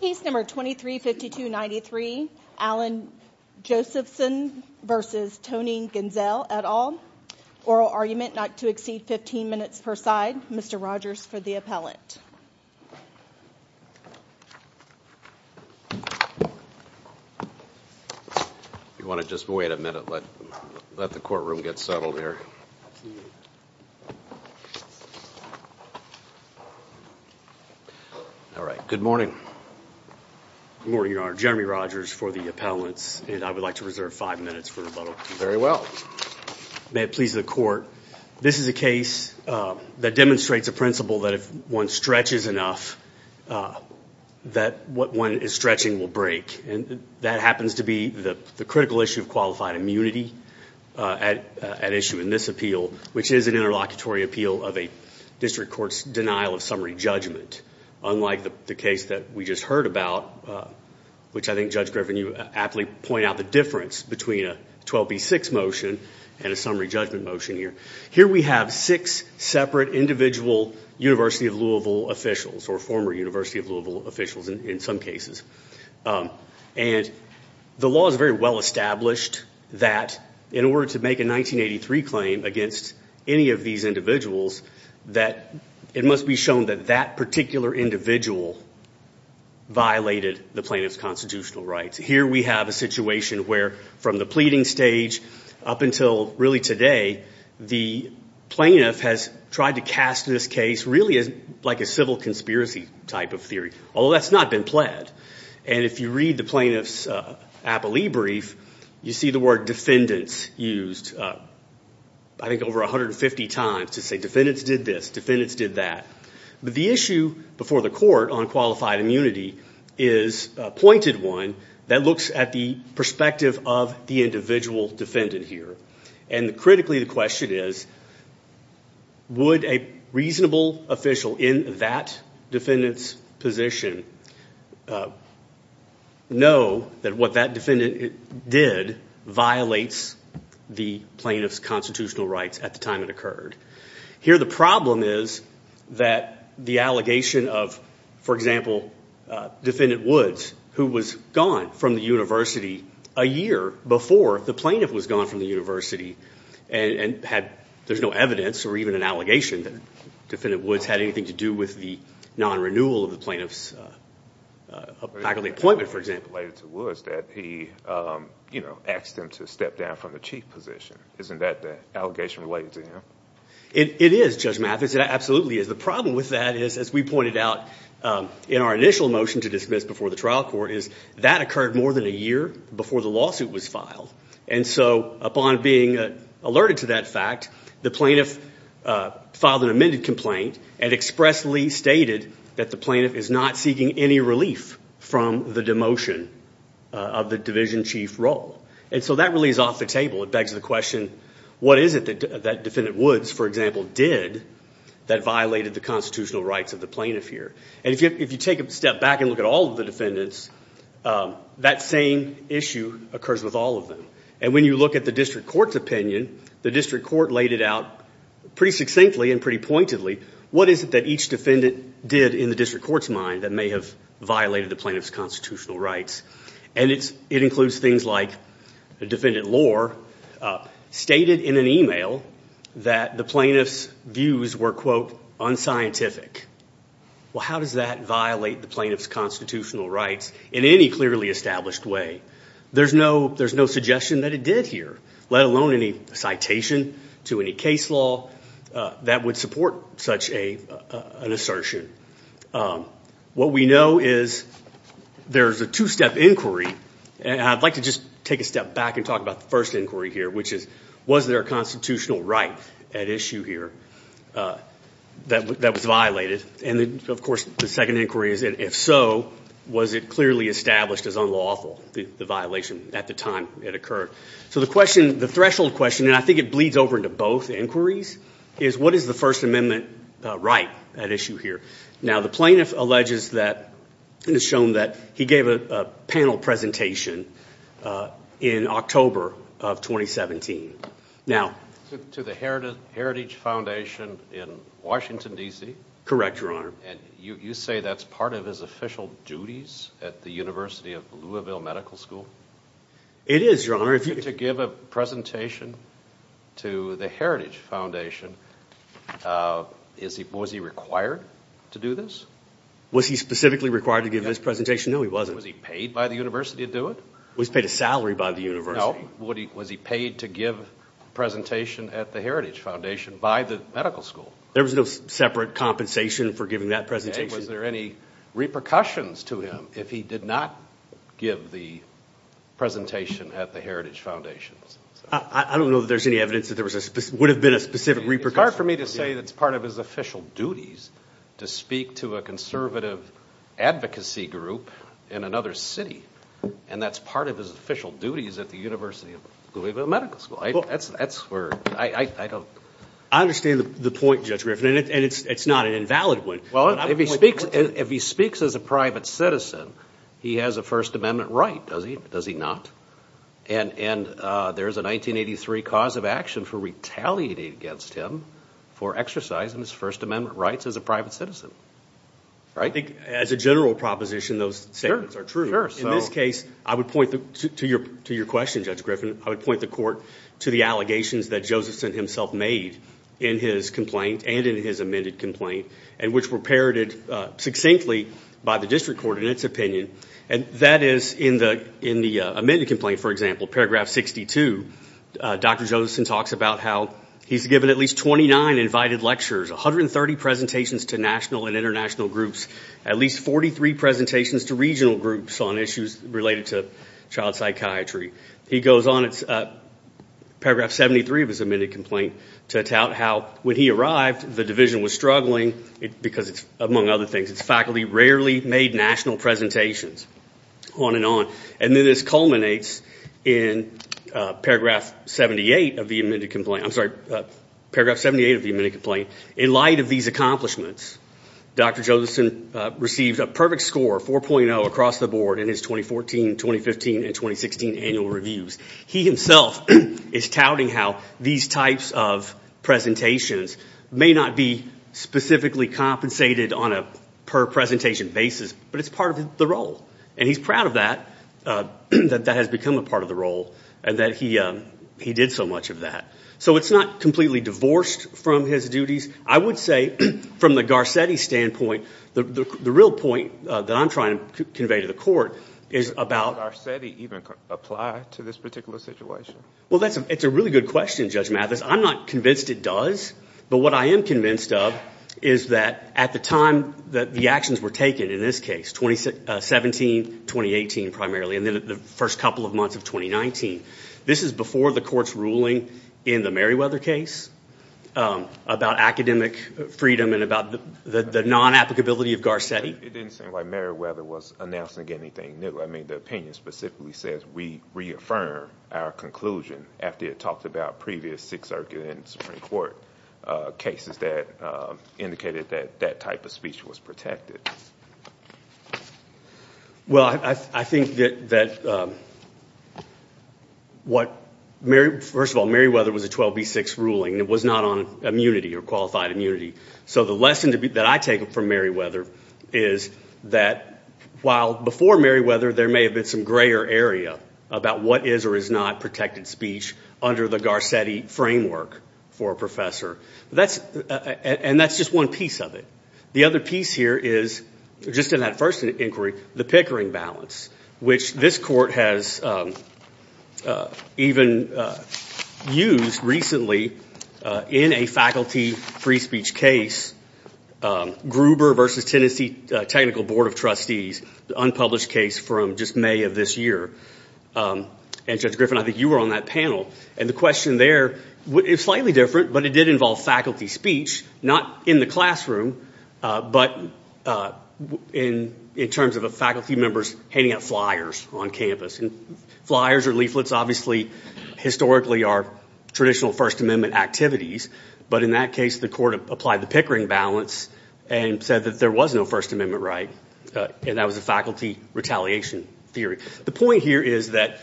Peace number 235293 Allen Josephson versus Toni Ganzel et al. Oral argument not to exceed 15 minutes per side. Mr. Rogers for the appellate. You want to just wait a minute let let the courtroom get settled here. All right. Good morning. Good morning, Your Honor. Jeremy Rogers for the appellate. And I would like to reserve five minutes for rebuttal. Very well. May it please the court. This is a case that demonstrates a principle that if one stretches enough that what one is stretching will break. And that happens to be the critical issue of qualified immunity at issue in this appeal, which is an interlocutory appeal of a district court's denial of summary judgment. Unlike the case that we just heard about, which I think Judge Griffin you aptly point out the difference between a 12b6 motion and a summary judgment motion here. Here we have six separate individual University of Louisville officials or former University of Louisville officials in some cases. And the law is very well established that in order to make a 1983 claim against any of these individuals that it must be shown that that particular individual violated the plaintiff's constitutional rights. Here we have a situation where from the pleading stage up until really today, the plaintiff has tried to cast this case really as like a civil conspiracy type of theory. Although that's not been pled. And if you read the plaintiff's appellee brief, you see the word defendants used I think over 150 times to say defendants did this, defendants did that. But the issue before the court on qualified immunity is a pointed one that looks at the perspective of the individual defendant here. And critically the question is would a reasonable official in that defendant's position know that what that defendant did violates the plaintiff's constitutional rights at the time it occurred. Here the problem is that the allegation of, for example, Defendant Woods who was gone from the university a year before the plaintiff was gone from the university and there's no evidence or even an allegation that Defendant Woods had anything to do with the non-renewal of the plaintiff's appellee appointment, for example. He asked him to step down from the chief position. Isn't that the allegation related to him? It is, Judge Mathis, it absolutely is. The problem with that is as we pointed out in our initial motion to dismiss before the trial court is that occurred more than a year before the lawsuit was filed. And so upon being alerted to that fact, the plaintiff filed an amended complaint and expressly stated that the plaintiff is not seeking any relief from the demotion of the division chief role. And so that really is off the table. It begs the question what is it that Defendant Woods, for example, did that violated the constitutional rights of the plaintiff here? And if you take a step back and look at all of the defendants, that same issue occurs with all of them. And when you look at the district court's opinion, the district court laid it out pretty succinctly and pretty pointedly. What is it that each defendant did in the district court's mind that may have violated the plaintiff's constitutional rights? And it includes things like Defendant Lohr stated in an email that the plaintiff's views were, quote, unscientific. Well, how does that violate the plaintiff's constitutional rights in any clearly established way? There's no suggestion that it did here, let alone any citation to any case law that would support such an assertion. What we know is there's a two-step inquiry, and I'd like to just take a step back and talk about the first inquiry here, which is was there a constitutional right at issue here that was violated? And of course, the second inquiry is if so, was it clearly established as unlawful, the violation at the time it occurred? So the question, the threshold question, and I think it bleeds over into both inquiries, is what is the First Amendment right at issue here? Now, the plaintiff alleges that, and has shown that, he gave a panel presentation in October of 2017. Now... To the Heritage Foundation in Washington, D.C.? Correct, Your Honor. And you say that's part of his official duties at the University of Louisville Medical School? It is, Your Honor, if you... To give a presentation to the Heritage Foundation, was he required to do this? Was he specifically required to give this presentation? No, he wasn't. Was he paid by the University to do it? He was paid a salary by the University. No, was he paid to give a presentation at the Heritage Foundation by the medical school? There was no separate compensation for giving that presentation? And was there any repercussions to him if he did not give the presentation at the Heritage Foundation? I don't know that there's any evidence that there would have been a specific repercussion. It's hard for me to say that's part of his official duties to speak to a conservative advocacy group in another city, and that's part of his official duties at the University of Louisville Medical School. That's where I don't... I understand the point, Judge Griffin, and it's not an invalid one. Well, if he speaks as a private citizen, he has a First Amendment right, does he not? And there's a 1983 cause of action for retaliating against him for exercising his First Amendment rights as a private citizen, right? As a general proposition, those statements are true. In this case, I would point to your question, Judge Griffin, I would point the court to the allegations that Josephson himself made in his complaint, and in his amended complaint, and which were parroted succinctly by the district court in its opinion. That is, in the amended complaint, for example, paragraph 62, Dr. Josephson talks about how he's given at least 29 invited lectures, 130 presentations to national and international groups, at least 43 presentations to regional groups on issues related to child psychiatry. He goes on, it's paragraph 73 of his amended complaint, to tout how when he arrived, the division was struggling, because it's, among other things, its faculty rarely made national presentations, on and on. And then this culminates in paragraph 78 of the amended complaint. I'm sorry, paragraph 78 of the amended complaint. In light of these accomplishments, Dr. Josephson received a perfect score, 4.0, across the board, in his 2014, 2015, and 2016 annual reviews. He himself is touting how these types of presentations may not be specifically compensated on a per-presentation basis, but it's part of the role. And he's proud of that, that that has become a part of the role, and that he did so much of that. So it's not completely divorced from his duties. I would say, from the Garcetti standpoint, the real point that I'm trying to convey to the court is about- Does Garcetti even apply to this particular situation? Well, it's a really good question, Judge Mathis. I'm not convinced it does, but what I am convinced of is that at the time that the actions were taken in this case, 2017, 2018 primarily, and then the first couple of months of 2019, this is before the court's ruling in the Merriweather case, about academic freedom and about the non-applicability of Garcetti. It didn't seem like Merriweather was announcing anything new. I mean, the opinion specifically says, we reaffirm our conclusion after it talked about previous Sixth Circuit and Supreme Court cases that indicated that that type of speech was protected. Well, I think that what- first of all, Merriweather was a 12B6 ruling. It was not on immunity or qualified immunity. So the lesson that I take from Merriweather is that while before Merriweather, there may have been some grayer area about what is or is not protected speech under the Garcetti framework for a professor, and that's just one piece of it. The other piece here is, just in that first inquiry, the Pickering balance, which this court has even used recently in a faculty free speech case, Gruber v. Tennessee Technical Board of Trustees, the unpublished case from just May of this year. And Judge Griffin, I think you were on that panel. And the question there is slightly different, but it did involve faculty speech, not in the classroom, but in terms of faculty members handing out flyers on campus. Flyers or leaflets, obviously, historically are traditional First Amendment activities. But in that case, the court applied the Pickering balance and said that there was no First Amendment right. And that was a faculty retaliation theory. The point here is that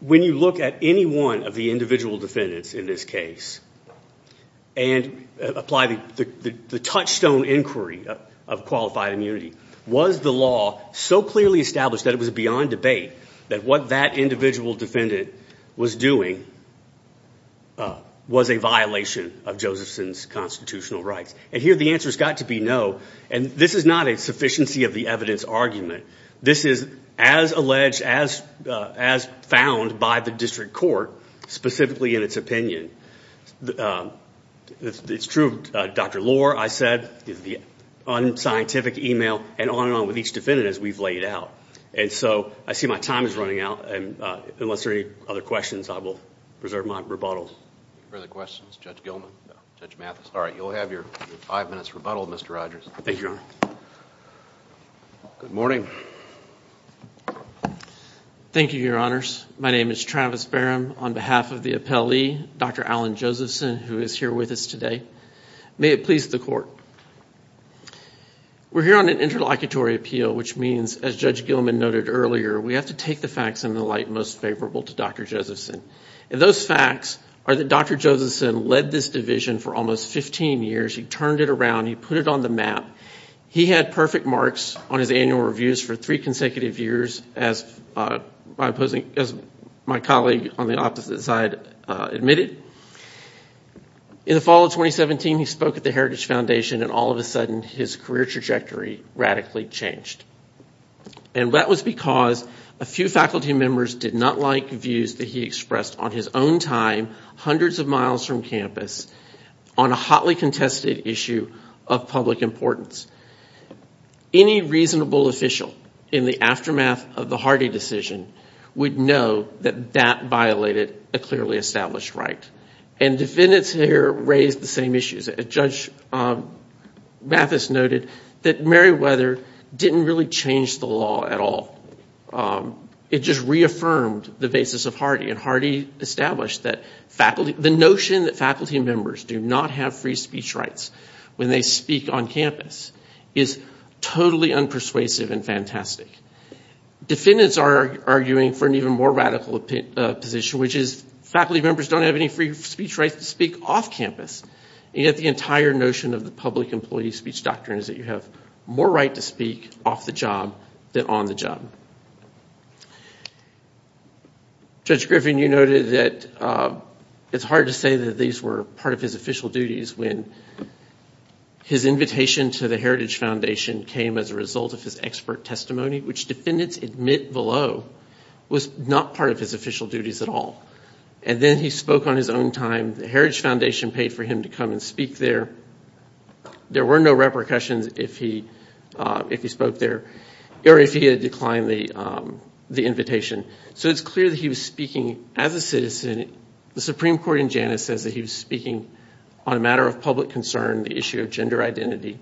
when you look at any one of the individual defendants in this case and apply the touchstone inquiry of qualified immunity, was the law so clearly established that it was beyond debate that what that individual defendant was doing was a violation of Josephson's constitutional rights? And here the answer has got to be no. And this is not a sufficiency of the evidence argument. This is as alleged, as found by the district court, specifically in its opinion. It's true, Dr. Lohr, I said, the unscientific email, and on and on with each defendant as we've laid out. And so I see my time is running out, and unless there are any other questions, I will preserve my rebuttal. Further questions? Judge Gilman? Judge Mathis? All right. You'll have your five minutes rebuttal, Mr. Rogers. Thank you, Your Honor. Good morning. Thank you, Your Honors. My name is Travis Barham. On behalf of the appellee, Dr. Alan Josephson, who is here with us today, may it please the court, we're here on an interlocutory appeal, which means, as Judge Gilman noted earlier, we have to take the facts in the light most favorable to Dr. Josephson. Those facts are that Dr. Josephson led this division for almost 15 years. He turned it around. He put it on the map. He had perfect marks on his annual reviews for three consecutive years, as my colleague on the opposite side admitted. In the fall of 2017, he spoke at the Heritage Foundation, and all of a sudden, his career trajectory radically changed. And that was because a few faculty members did not like views that he expressed on his own time, hundreds of miles from campus, on a hotly contested issue of public importance. Any reasonable official in the aftermath of the Hardy decision would know that that violated a clearly established right. And defendants here raised the same issues. Judge Mathis noted that Meriwether didn't really change the law at all. It just reaffirmed the basis of Hardy, and Hardy established that the notion that faculty members do not have free speech rights when they speak on campus is totally unpersuasive and fantastic. Defendants are arguing for an even more radical position, which is faculty members don't have any free speech rights to speak off campus, and yet the entire notion of the public employee free speech doctrine is that you have more right to speak off the job than on the job. Judge Griffin, you noted that it's hard to say that these were part of his official duties when his invitation to the Heritage Foundation came as a result of his expert testimony, which defendants admit below was not part of his official duties at all. And then he spoke on his own time. The Heritage Foundation paid for him to come and speak there. There were no repercussions if he spoke there, or if he had declined the invitation. So it's clear that he was speaking as a citizen. The Supreme Court in Janus says that he was speaking on a matter of public concern, the issue of gender identity.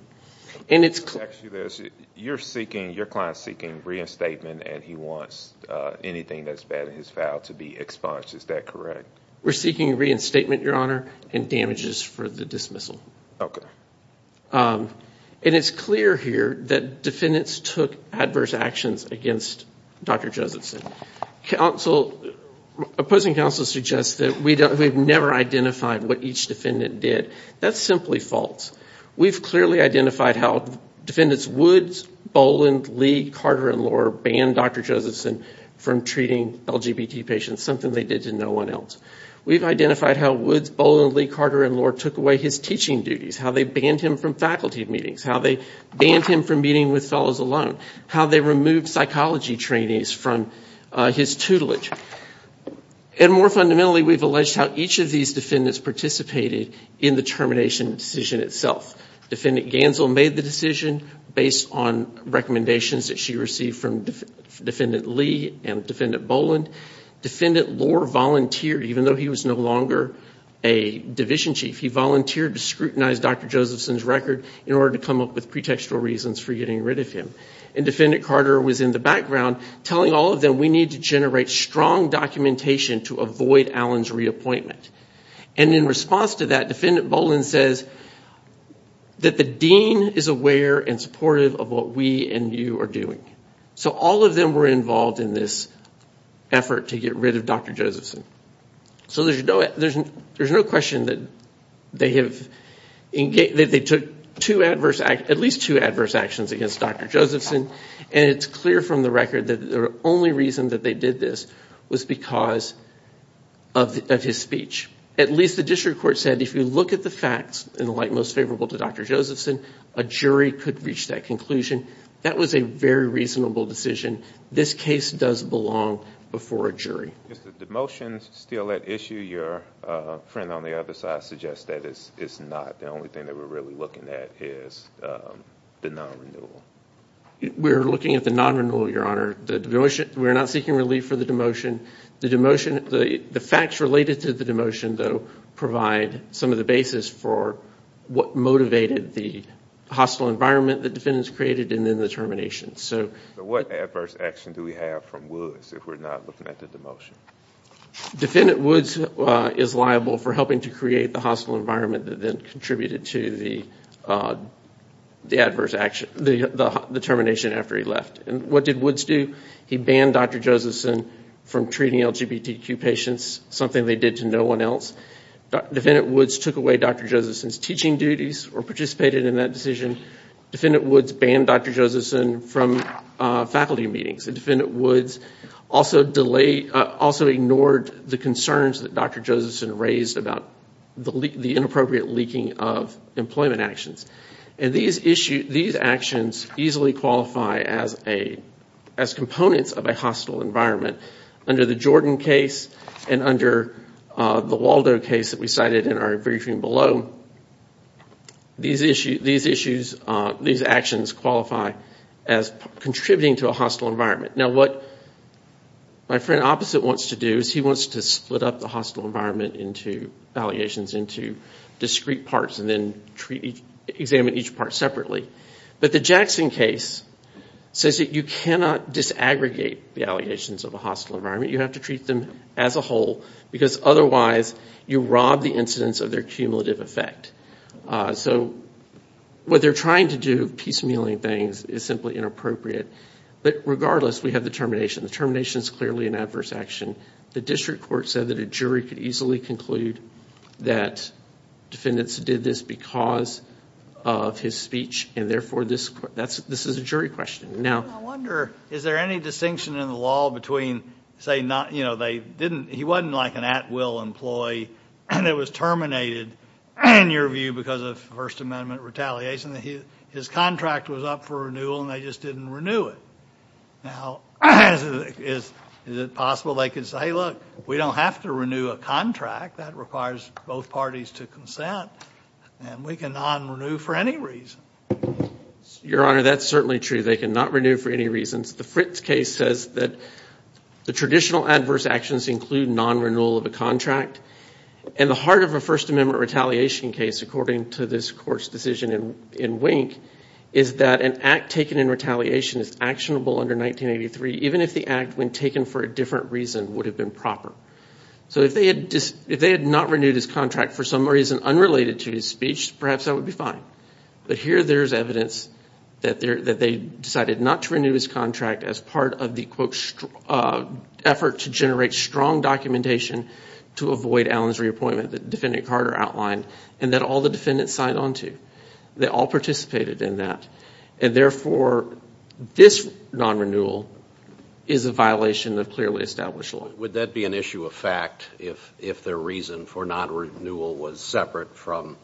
And it's clear- Actually, your client's seeking reinstatement, and he wants anything that's bad in his file to be expunged. Is that correct? We're seeking reinstatement, your honor, and damages for the dismissal. And it's clear here that defendants took adverse actions against Dr. Josephson. Opposing counsel suggests that we've never identified what each defendant did. That's simply false. We've clearly identified how defendants would, Boland, Lee, Carter, and Lohr, ban Dr. Josephson from treating LGBT patients, something they did to no one else. We've identified how Woods, Boland, Lee, Carter, and Lohr took away his teaching duties, how they banned him from faculty meetings, how they banned him from meeting with fellows alone, how they removed psychology trainees from his tutelage. And more fundamentally, we've alleged how each of these defendants participated in the termination decision itself. Defendant Ganzel made the decision based on recommendations that she received from Defendant Lee and Defendant Boland. Defendant Lohr volunteered, even though he was no longer a division chief, he volunteered to scrutinize Dr. Josephson's record in order to come up with pretextual reasons for getting rid of him. And Defendant Carter was in the background telling all of them, we need to generate strong documentation to avoid Allen's reappointment. And in response to that, Defendant Boland says that the dean is aware and supportive of what we and you are doing. So all of them were involved in this effort to get rid of Dr. Josephson. So there's no question that they took at least two adverse actions against Dr. Josephson, and it's clear from the record that the only reason that they did this was because of his speech. At least the district court said if you look at the facts, in the light most favorable to Dr. Josephson, a jury could reach that conclusion. That was a very reasonable decision. This case does belong before a jury. Is the demotion still at issue? Your friend on the other side suggests that it's not. The only thing that we're really looking at is the non-renewal. We're looking at the non-renewal, Your Honor. We're not seeking relief for the demotion. The facts related to the demotion, though, provide some of the basis for what motivated the hostile environment that defendants created and then the termination. What adverse action do we have from Woods if we're not looking at the demotion? Defendant Woods is liable for helping to create the hostile environment that then contributed to the adverse action, the termination after he left. What did Woods do? He banned Dr. Josephson from treating LGBTQ patients, something they did to no one else. Defendant Woods took away Dr. Josephson's teaching duties or participated in that decision. Defendant Woods banned Dr. Josephson from faculty meetings. Defendant Woods also ignored the concerns that Dr. Josephson raised about the inappropriate leaking of employment actions. These actions easily qualify as components of a hostile environment. Under the Jordan case and under the Waldo case that we cited in our briefing below, these actions qualify as contributing to a hostile environment. Now what my friend opposite wants to do is he wants to split up the hostile environment allegations into discrete parts and then examine each part separately, but the Jackson case says that you cannot disaggregate the allegations of a hostile environment. You have to treat them as a whole because otherwise you rob the incidents of their cumulative effect. What they're trying to do, piecemealing things, is simply inappropriate, but regardless we have the termination. The termination is clearly an adverse action. The district court said that a jury could easily conclude that defendants did this because of his speech and therefore this is a jury question. Now I wonder, is there any distinction in the law between, say, he wasn't like an at-will employee and it was terminated, in your view, because of First Amendment retaliation. His contract was up for renewal and they just didn't renew it. Now, is it possible they could say, look, we don't have to renew a contract, that requires both parties to consent, and we can non-renew for any reason. Your Honor, that's certainly true. They cannot renew for any reason. The Fritz case says that the traditional adverse actions include non-renewal of a contract and the heart of a First Amendment retaliation case, according to this court's decision in Wink, is that an act taken in retaliation is actionable under 1983, even if the act when taken for a different reason would have been proper. So if they had not renewed his contract for some reason unrelated to his speech, perhaps that would be fine, but here there's evidence that they decided not to renew his contract as part of the quote, effort to generate strong documentation to avoid Allen's reappointment that Defendant Carter outlined and that all the defendants signed on to. They all participated in that, and therefore this non-renewal is a violation of clearly established law. Would that be an issue of fact if their reason for non-renewal was separate from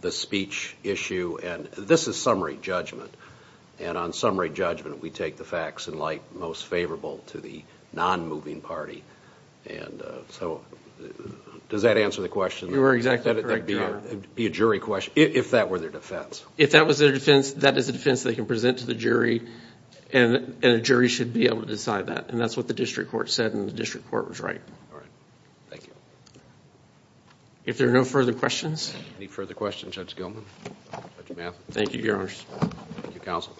the speech issue? And this is summary judgment, and on summary judgment we take the facts in light most favorable to the non-moving party, and so does that answer the question? You are exactly correct, Your Honor. Would that be a jury question, if that were their defense? If that was their defense, that is a defense they can present to the jury, and a jury should be able to decide that, and that's what the district court said, and the district court was right. All right. Thank you. If there are no further questions? Any further questions, Judge Gilman? Judge Mathis? Thank you, Your Honor. Thank you, counsel.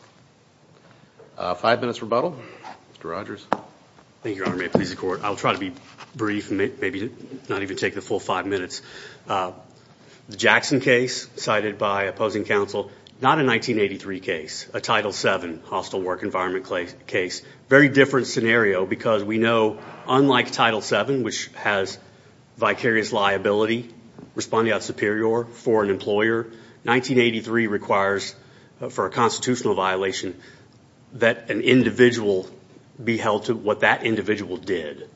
Five minutes rebuttal. Mr. Rogers? Thank you, Your Honor. May it please the court. I'll try to be brief, maybe not even take the full five minutes. The Jackson case cited by opposing counsel, not a 1983 case, a Title VII hostile work environment case, very different scenario because we know, unlike Title VII, which has vicarious liability responding out superior for an employer, 1983 requires for a constitutional violation that an individual be held to what that individual did.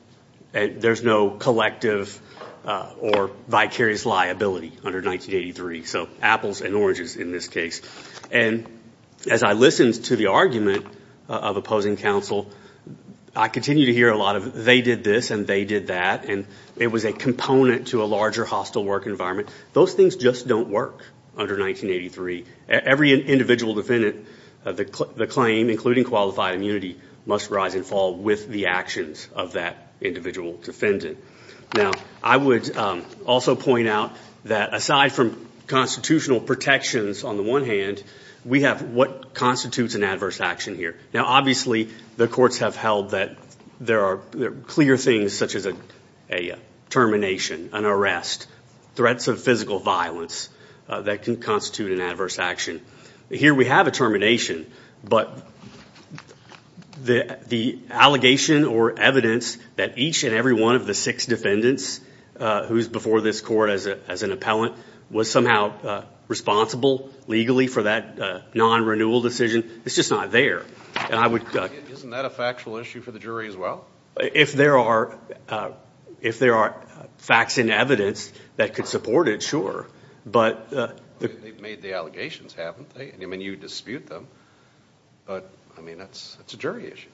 There's no collective or vicarious liability under 1983, so apples and oranges in this case. As I listened to the argument of opposing counsel, I continued to hear a lot of they did this and they did that, and it was a component to a larger hostile work environment. Those things just don't work under 1983. Every individual defendant, the claim, including qualified immunity, must rise and fall with the actions of that individual defendant. Now, I would also point out that aside from constitutional protections on the one hand, we have what constitutes an adverse action here. Now, obviously, the courts have held that there are clear things such as a termination, an arrest, threats of physical violence that can constitute an adverse action. Here we have a termination, but the allegation or evidence that each and every one of the six defendants who's before this court as an appellant was somehow responsible legally for that non-renewal decision, it's just not there. Isn't that a factual issue for the jury as well? If there are facts and evidence that could support it, sure, but... They've made the allegations, haven't they? You dispute them, but that's a jury issue.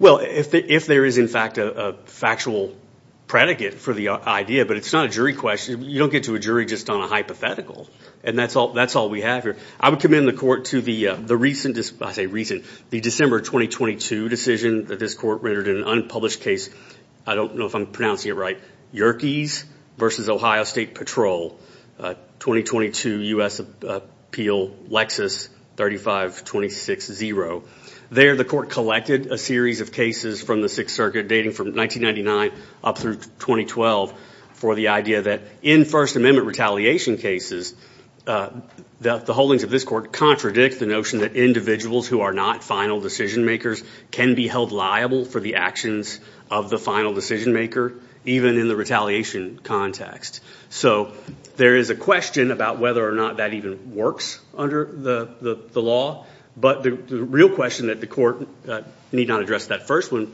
If there is, in fact, a factual predicate for the idea, but it's not a jury question, you don't get to a jury just on a hypothetical, and that's all we have here. I would commend the court to the December 2022 decision that this court rendered in an unpublished case, I don't know if I'm pronouncing it right, Yerkes v. Ohio State Patrol, 2022 U.S. Appeal Lexis 3526-0. There, the court collected a series of cases from the Sixth Circuit dating from 1999 up through 2012 for the idea that in First Amendment retaliation cases, the holdings of this court contradict the notion that individuals who are not final decision makers can be held liable for the actions of the final decision maker, even in the retaliation context. There is a question about whether or not that even works under the law, but the real question that the court need not address that first one,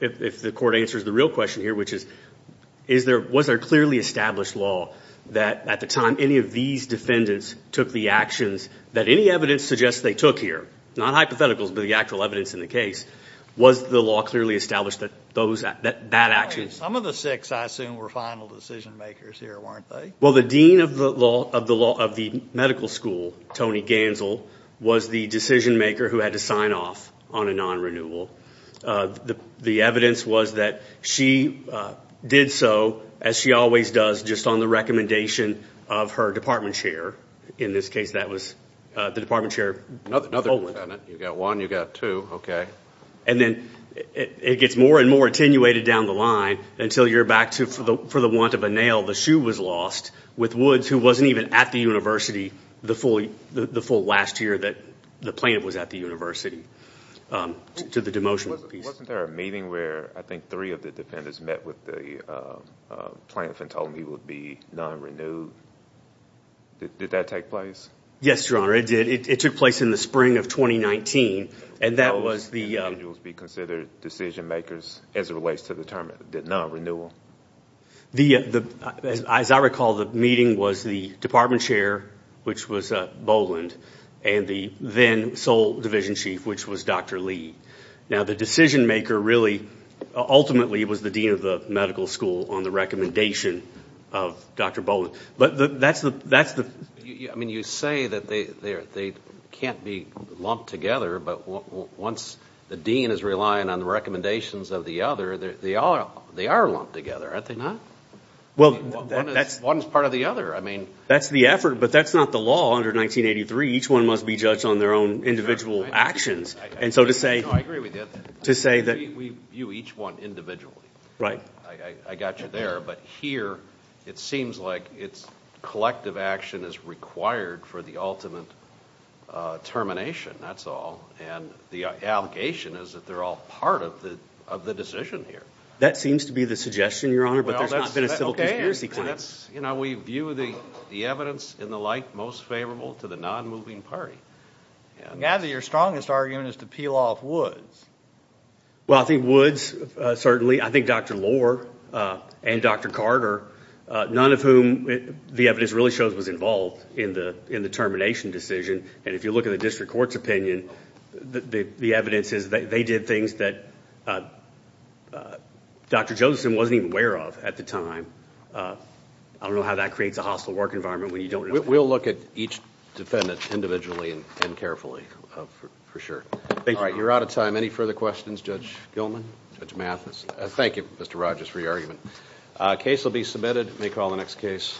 if the court answers the real question here, which is, was there clearly established law that at the time any of these defendants took the actions that any evidence suggests they took here, not hypotheticals, but the actual evidence in the case, was the law clearly established that those, that that action... Some of the six, I assume, were final decision makers here, weren't they? Well, the dean of the law, of the law, of the medical school, Tony Gansel, was the decision maker who had to sign off on a non-renewal. The evidence was that she did so, as she always does, just on the recommendation of her department chair. In this case, that was the department chair... Another defendant. You got one, you got two, okay. And then it gets more and more attenuated down the line until you're back to, for the want of a nail, the shoe was lost with Woods, who wasn't even at the university the full last year that the plaintiff was at the university, to the demotion piece. Wasn't there a meeting where, I think, three of the defendants met with the plaintiff and told him he would be non-renewed? Did that take place? Yes, your honor, it did. It took place in the spring of 2019, and that was the... How would individuals be considered decision makers as it relates to the term, the non-renewal? As I recall, the meeting was the department chair, which was Boland, and the then sole division chief, which was Dr. Lee. Now, the decision maker really, ultimately, was the dean of the medical school on the recommendation of Dr. Boland. But that's the... I mean, you say that they can't be lumped together, but once the dean is relying on the recommendations of the other, they are lumped together, aren't they not? One is part of the other. I mean... That's the effort, but that's not the law under 1983. Each one must be judged on their own individual actions. And so to say... No, I agree with you. To say that... We view each one individually. Right. I got you there, but here, it seems like collective action is required for the ultimate termination, that's all. The allegation is that they're all part of the decision here. That seems to be the suggestion, Your Honor, but there's not been a civil conspiracy claim. We view the evidence and the like most favorable to the non-moving party. I gather your strongest argument is to peel off Woods. Well, I think Woods, certainly. I think Dr. Lohr and Dr. Carter, none of whom the evidence really shows was involved in the termination decision. And if you look at the district court's opinion, the evidence is that they did things that Dr. Josephson wasn't even aware of at the time. I don't know how that creates a hostile work environment when you don't know... We'll look at each defendant individually and carefully, for sure. All right, you're out of time. Any further questions, Judge Gilman? Judge Mathis? Thank you, Mr. Rogers, for your argument. Case will be submitted. May call the next case.